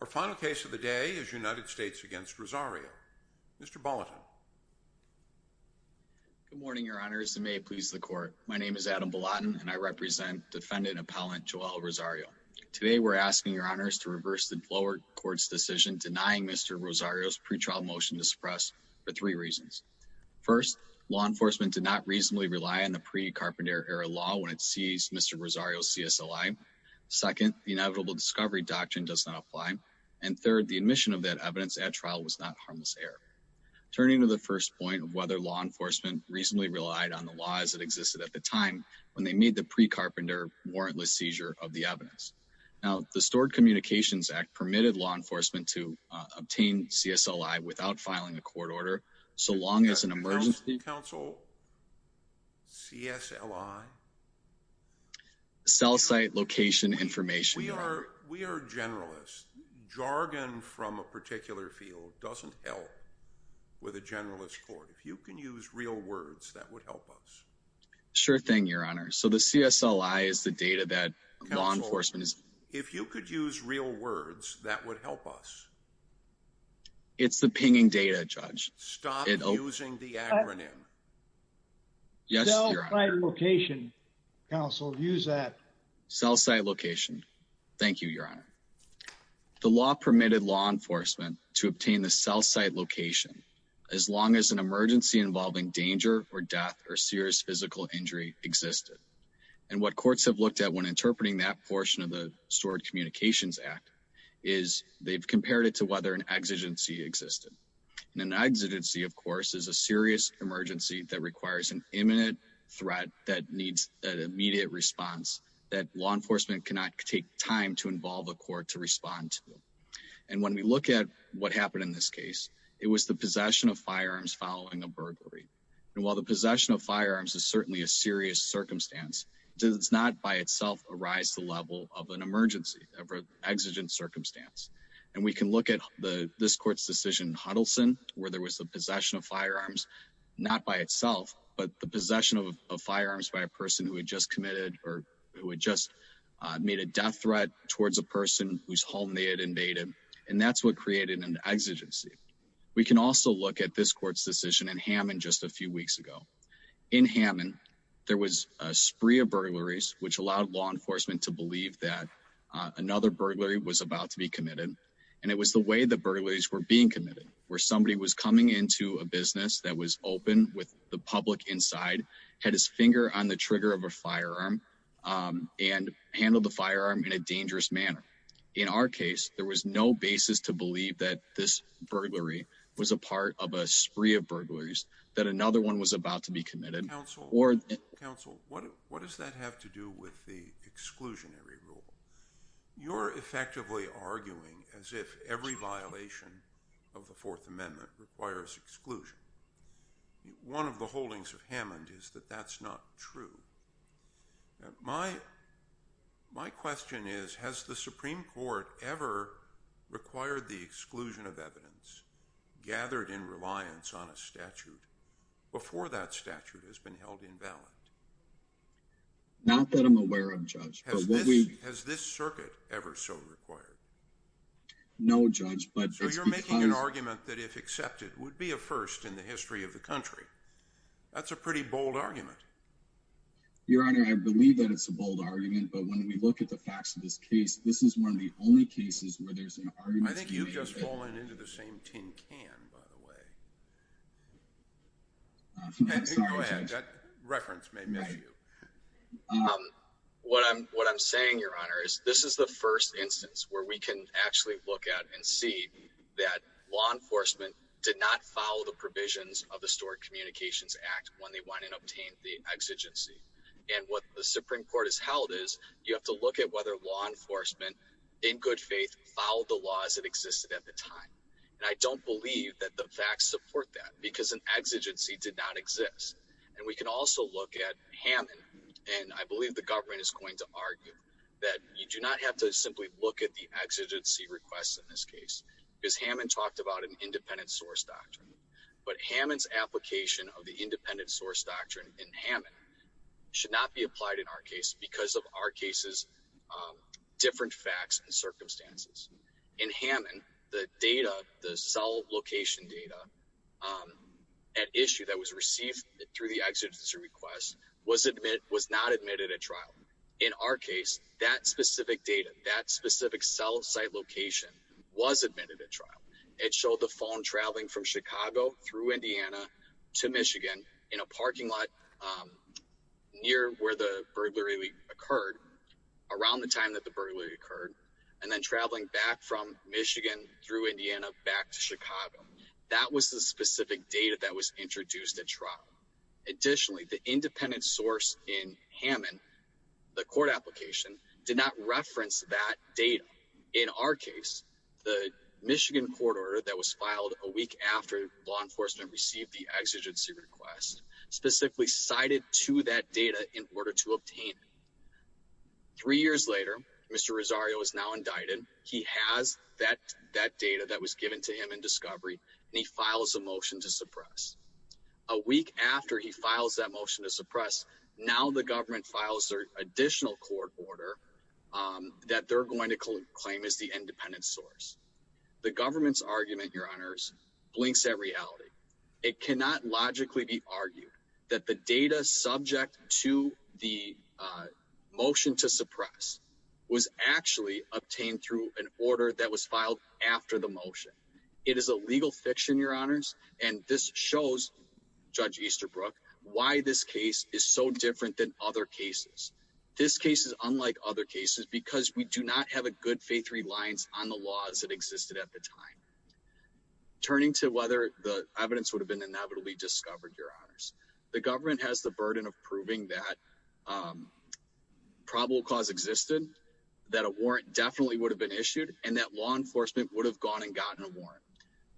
Our final case of the day is United States v. Rosario. Mr. Bolotin. Good morning, Your Honors, and may it please the Court. My name is Adam Bolotin, and I represent defendant-appellant Joel Rosario. Today, we're asking Your Honors to reverse the lower court's decision denying Mr. Rosario's pretrial motion to suppress for three reasons. First, law enforcement did not reasonably rely on the pre-Carpenter era law when it seized Mr. Rosario's CSLI. Second, the Inevitable Discovery Doctrine does not apply. And third, the admission of that evidence at trial was not harmless error. Turning to the first point of whether law enforcement reasonably relied on the laws that existed at the time when they made the pre-Carpenter warrantless seizure of the evidence. Now, the Stored Communications Act permitted law enforcement to obtain CSLI without filing a court order, so long as an emergency... Counsel? CSLI? Cell Site Location Information. We are generalists. Jargon from a particular field doesn't help with a generalist court. If you can use real words, that would help us. Sure thing, Your Honor. So the CSLI is the data that law enforcement is... Counsel, if you could use real words, that would help us. It's the pinging data, Judge. Stop using the acronym. Cell Site Location. Counsel, use that. Cell Site Location. Thank you, Your Honor. The law permitted law enforcement to obtain the cell site location as long as an emergency involving danger or death or serious physical injury existed. And what courts have looked at when interpreting that portion of the Stored Communications Act is they've compared it to whether an exigency existed. An exigency, of course, is a serious emergency that requires an imminent threat that needs an immediate response that law enforcement cannot take time to involve a court to respond to. And when we look at what happened in this case, it was the possession of firearms following a burglary. And while the possession of firearms is certainly a serious circumstance, it does not by itself arise to the level of an emergency, of an exigent circumstance. And we can look at this court's decision in Huddleston, where there was the possession of firearms, not by itself, but the possession of firearms by a person who had just committed or who had just made a death threat towards a person whose home they had invaded. And that's what created an exigency. We can also look at this court's decision in Hammond just a few weeks ago. In Hammond, there was a spree of burglaries which allowed law enforcement to believe that another burglary was about to be committed. And it was the way the burglaries were being committed, where somebody was coming into a business that was open with the public inside, had his finger on the trigger of a firearm, and handled the firearm in a dangerous manner. In our case, there was no basis to believe that this burglary was a part of a spree of burglaries, that another one was about to be committed. Counsel, what does that have to do with the exclusionary rule? You're effectively arguing as if every violation of the Fourth Amendment requires exclusion. One of the holdings of Hammond is that that's not true. My question is, has the Supreme Court ever required the exclusion of evidence gathered in reliance on a statute before that statute has been held invalid? Not that I'm aware of, Judge. Has this circuit ever so required? No, Judge. So you're making an argument that if accepted would be a first in the history of the country. That's a pretty bold argument. Your Honor, I believe that it's a bold argument, but when we look at the facts of this case, this is one of the only cases where there's an argument to be made. I think you've just fallen into the same tin can, by the way. I'm sorry, Judge. Go ahead. That reference may miss you. What I'm saying, Your Honor, is this is the first instance where we can actually look at and see that law enforcement did not follow the provisions of the Historic Communications Act when they went and obtained the exigency. And what the Supreme Court has held is you have to look at whether law enforcement, in good faith, followed the laws that existed at the time. And I don't believe that the facts support that because an exigency did not exist. And we can also look at Hammond, and I believe the government is going to argue that you do not have to simply look at the exigency requests in this case. Because Hammond talked about an independent source doctrine. But Hammond's application of the independent source doctrine in Hammond should not be applied in our case because of our case's different facts and circumstances. In Hammond, the data, the cell location data at issue that was received through the exigency request was not admitted at trial. In our case, that specific data, that specific cell site location was admitted at trial. It showed the phone traveling from Chicago through Indiana to Michigan in a parking lot near where the burglary occurred, around the time that the burglary occurred, and then traveling back from Michigan through Indiana back to Chicago. That was the specific data that was introduced at trial. Additionally, the independent source in Hammond, the court application, did not reference that data. In our case, the Michigan court order that was filed a week after law enforcement received the exigency request specifically cited to that data in order to obtain it. Three years later, Mr. Rosario is now indicted. He has that data that was given to him in discovery, and he files a motion to suppress. A week after he files that motion to suppress, now the government files their additional court order that they're going to claim as the independent source. The government's argument, Your Honors, blinks at reality. It cannot logically be argued that the data subject to the motion to suppress was actually obtained through an order that was filed after the motion. It is a legal fiction, Your Honors, and this shows Judge Easterbrook why this case is so different than other cases. This case is unlike other cases because we do not have a good faith reliance on the laws that existed at the time. Turning to whether the evidence would have been inevitably discovered, Your Honors, the government has the burden of proving that probable cause existed, that a warrant definitely would have been issued, and that law enforcement would have gone and gotten a warrant.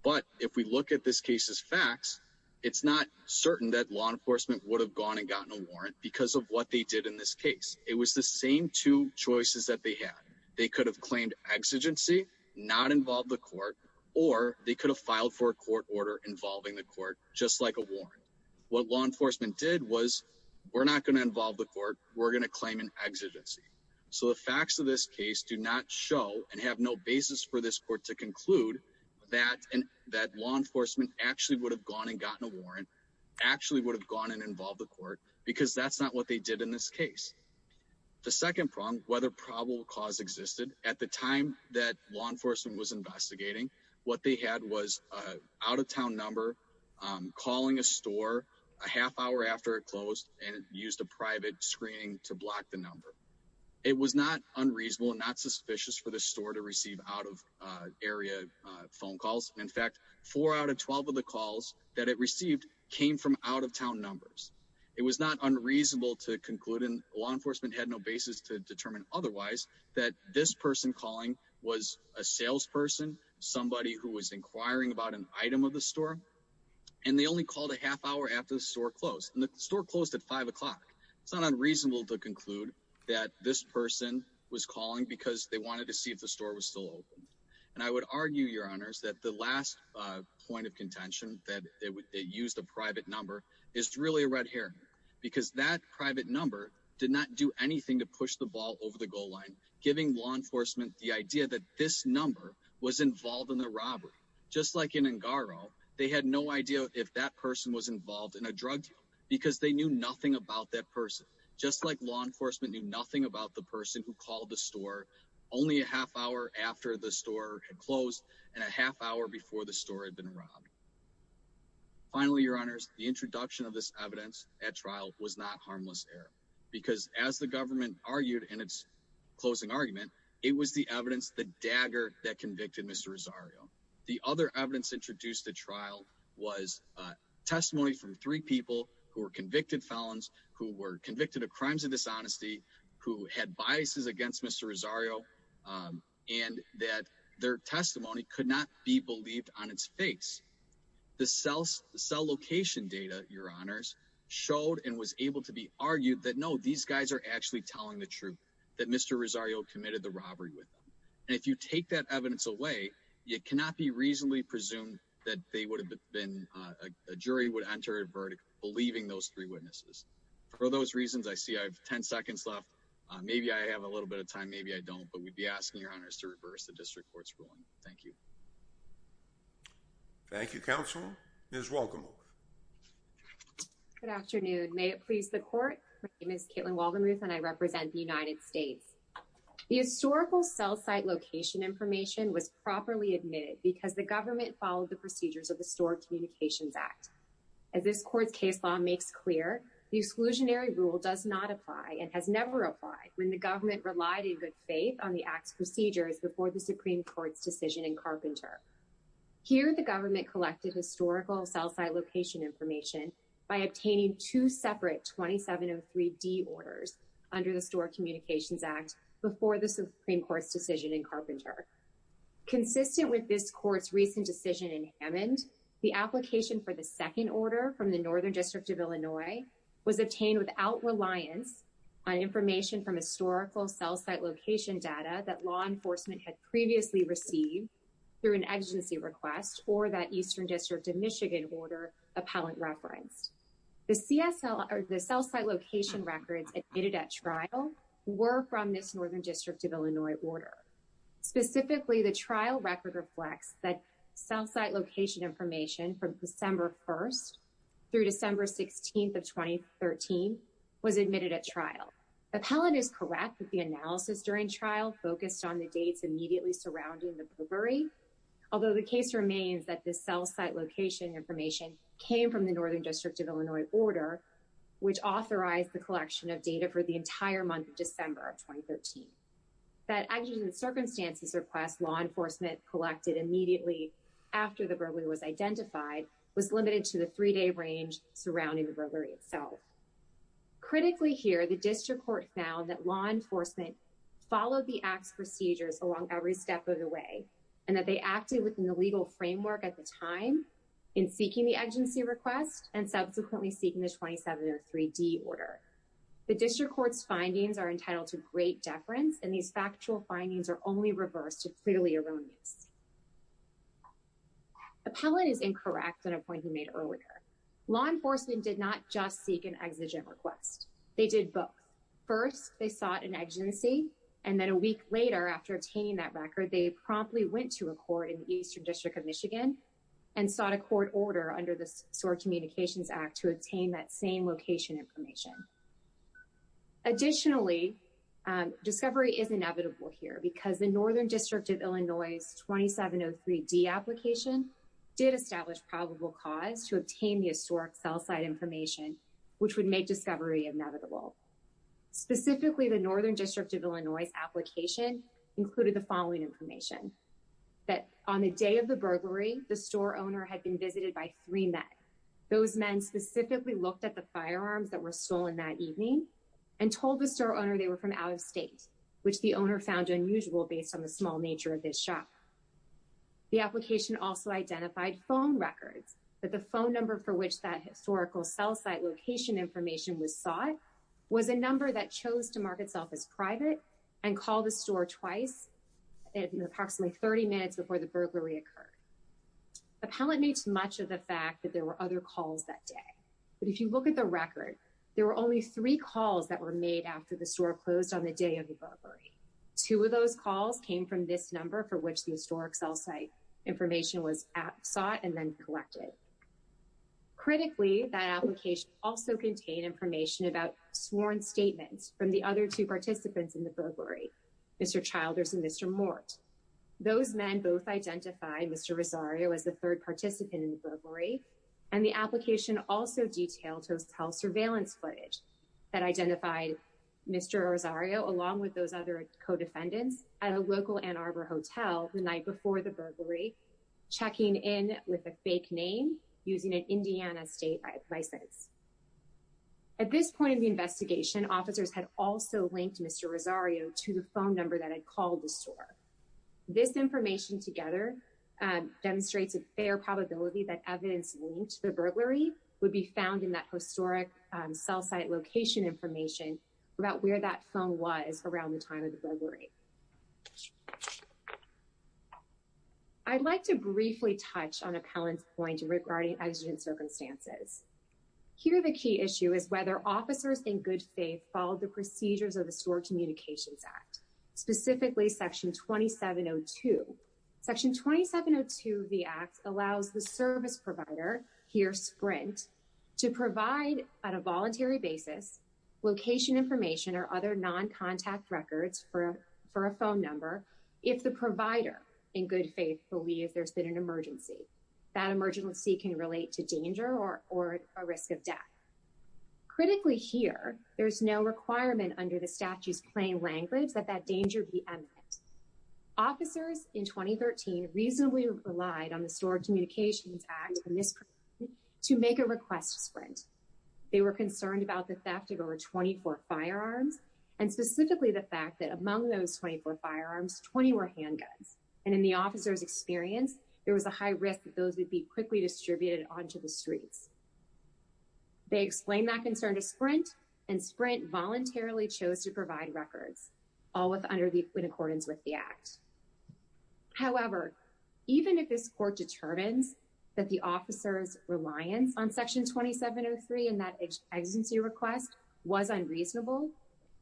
But if we look at this case's facts, it's not certain that law enforcement would have gone and gotten a warrant because of what they did in this case. It was the same two choices that they had. They could have claimed exigency, not involve the court, or they could have filed for a court order involving the court, just like a warrant. What law enforcement did was, we're not going to involve the court. We're going to claim an exigency. So the facts of this case do not show and have no basis for this court to conclude that law enforcement actually would have gone and gotten a warrant, actually would have gone and involved the court, because that's not what they did in this case. The second problem, whether probable cause existed, at the time that law enforcement was investigating, what they had was an out-of-town number calling a store a half hour after it closed and used a private screening to block the number. It was not unreasonable and not suspicious for the store to receive out-of-area phone calls. In fact, four out of 12 of the calls that it received came from out-of-town numbers. It was not unreasonable to conclude, and law enforcement had no basis to determine otherwise, that this person calling was a salesperson, somebody who was inquiring about an item of the store, and they only called a half hour after the store closed. And the store closed at 5 o'clock. It's not unreasonable to conclude that this person was calling because they wanted to see if the store was still open. And I would argue, Your Honors, that the last point of contention, that they used a private number, is really a red herring. Because that private number did not do anything to push the ball over the goal line, giving law enforcement the idea that this number was involved in the robbery. Just like in Ngaro, they had no idea if that person was involved in a drug deal, because they knew nothing about that person. Just like law enforcement knew nothing about the person who called the store only a half hour after the store had closed, and a half hour before the store had been robbed. Finally, Your Honors, the introduction of this evidence at trial was not harmless error. Because as the government argued in its closing argument, it was the evidence, the dagger, that convicted Mr. Rosario. The other evidence introduced at trial was testimony from three people who were convicted felons, who were convicted of crimes of dishonesty, who had biases against Mr. Rosario, and that their testimony could not be believed on its face. The cell location data, Your Honors, showed and was able to be argued that no, these guys are actually telling the truth, that Mr. Rosario committed the robbery with them. And if you take that evidence away, you cannot be reasonably presumed that they would have been, a jury would enter a verdict believing those three witnesses. For those reasons, I see I have 10 seconds left. Maybe I have a little bit of time, maybe I don't, but we'd be asking Your Honors to reverse the district court's ruling. Thank you. Thank you, Counselor. Ms. Walker-Moore. Good afternoon. May it please the Court? My name is Caitlin Waldenruth, and I represent the United States. The historical cell site location information was properly admitted because the government followed the procedures of the Store Communications Act. As this Court's case law makes clear, the exclusionary rule does not apply and has never applied when the government relied in good faith on the Act's procedures before the Supreme Court's decision in Carpenter. Here, the government collected historical cell site location information by obtaining two separate 2703D orders under the Store Communications Act before the Supreme Court's decision in Carpenter. Consistent with this Court's recent decision in Hammond, the application for the second order from the Northern District of Illinois was obtained without reliance on information from historical cell site location data that law enforcement had previously received through an agency request or that Eastern District of Michigan order appellant referenced. The cell site location records admitted at trial were from this Northern District of Illinois order. Specifically, the trial record reflects that cell site location information from December 1st through December 16th of 2013 was admitted at trial. Appellant is correct that the analysis during trial focused on the dates immediately surrounding the bribery, although the case remains that this cell site location information came from the Northern District of Illinois order, which authorized the collection of data for the entire month of December of 2013. That actions and circumstances request law enforcement collected immediately after the bribery was identified was limited to the three-day range surrounding the bribery itself. Critically here, the District Court found that law enforcement followed the Act's procedures along every step of the way and that they acted within the legal framework at the time in seeking the agency request and subsequently seeking the 2703D order. The District Court's findings are entitled to great deference, and these factual findings are only reversed to clearly erroneous. Appellant is incorrect on a point he made earlier. Law enforcement did not just seek an exigent request. They did both. First, they sought an agency, and then a week later, after obtaining that record, they promptly went to a court in the Eastern District of Michigan and sought a court order under the Historic Communications Act to obtain that same location information. Additionally, discovery is inevitable here because the Northern District of Illinois's 2703D application did establish probable cause to obtain the historic cell site information, which would make discovery inevitable. Specifically, the Northern District of Illinois's application included the following information, that on the day of the burglary, the store owner had been visited by three men. Those men specifically looked at the firearms that were stolen that evening and told the store owner they were from out of state, which the owner found unusual based on the small nature of this shop. The application also identified phone records, but the phone number for which that historical cell site location information was sought was a number that chose to mark itself as private and call the store twice approximately 30 minutes before the burglary occurred. Appellant makes much of the fact that there were other calls that day. But if you look at the record, there were only three calls that were made after the store closed on the day of the burglary. Two of those calls came from this number for which the historic cell site information was sought and then collected. Critically, that application also contained information about sworn statements from the other two participants in the burglary, Mr. Childers and Mr. Mort. Those men both identified Mr. Rosario as the third participant in the burglary, and the application also detailed health surveillance footage that identified Mr. Rosario, along with those other co-defendants, at a local Ann Arbor hotel the night before the burglary, checking in with a fake name using an Indiana state license. At this point in the investigation, officers had also linked Mr. Rosario to the phone number that had called the store. This information together demonstrates a fair probability that evidence linked to the burglary would be found in that historic cell site location information about where that phone was around the time of the burglary. I'd like to briefly touch on Appellant's point regarding exigent circumstances. Here, the key issue is whether officers in good faith followed the procedures of the Store Communications Act, specifically Section 2702. Section 2702 of the Act allows the service provider, here Sprint, to provide on a voluntary basis location information or other non-contact records for a phone number if the provider in good faith believes there's been an emergency. That emergency can relate to danger or a risk of death. Critically here, there's no requirement under the statute's plain language that that danger be eminent. Officers in 2013 reasonably relied on the Store Communications Act to make a request to Sprint. They were concerned about the fact that there were 24 firearms, and specifically the fact that among those 24 firearms, 20 were handguns. And in the officer's experience, there was a high risk that those would be quickly distributed onto the streets. They explained that concern to Sprint, and Sprint voluntarily chose to provide records, all in accordance with the Act. However, even if this Court determines that the officer's reliance on Section 2703 and that exigency request was unreasonable,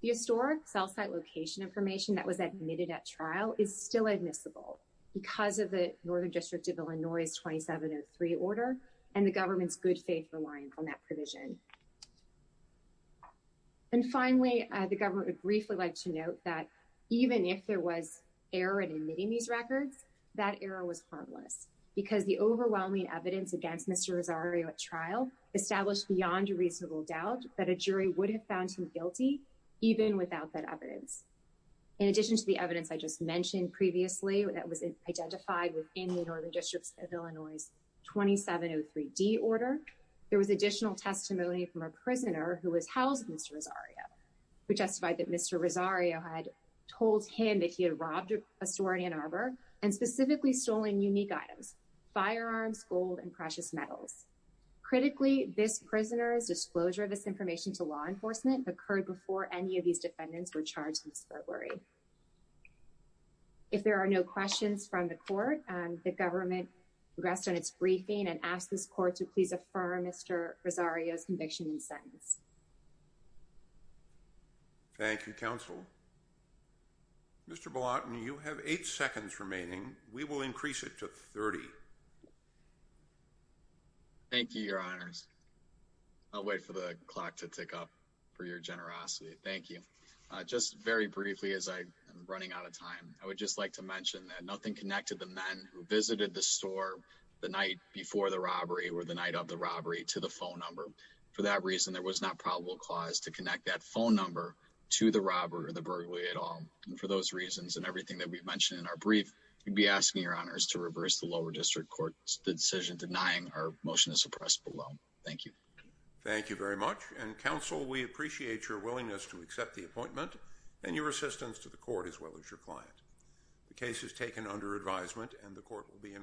the historic cell site location information that was admitted at trial is still admissible because of the Northern District of Illinois' 2703 order and the government's good faith reliance on that provision. And finally, the government would briefly like to note that even if there was error in admitting these records, that error was harmless because the overwhelming evidence against Mr. Rosario at trial established beyond a reasonable doubt that a jury would have found him guilty even without that evidence. In addition to the evidence I just mentioned previously that was identified within the Northern District of Illinois' 2703D order, there was additional testimony from a prisoner who was housed with Mr. Rosario who testified that Mr. Rosario had told him that he had robbed a store in Ann Arbor and specifically stolen unique items, firearms, gold, and precious metals. Critically, this prisoner's disclosure of this information to law enforcement occurred before any of these defendants were charged in this burglary. If there are no questions from the Court, the government rests on its briefing and asks this Court to please affirm Mr. Rosario's conviction and sentence. Thank you, Counsel. Mr. Bolotny, you have eight seconds remaining. We will increase it to 30. Thank you, Your Honors. I'll wait for the clock to tick up for your generosity. Thank you. Just very briefly as I am running out of time, I would just like to mention that nothing connected the men who visited the store the night before the robbery or the night of the robbery to the phone number. For that reason, there was not probable cause to connect that phone number to the robber or the burglary at all. And for those reasons and everything that we've mentioned in our brief, we'd be asking Your Honors to reverse the Lower District Court's decision denying our motion to suppress below. Thank you. Thank you very much. And, Counsel, we appreciate your willingness to accept the appointment and your assistance to the Court as well as your client. The case is taken under advisement and the Court will be in recess.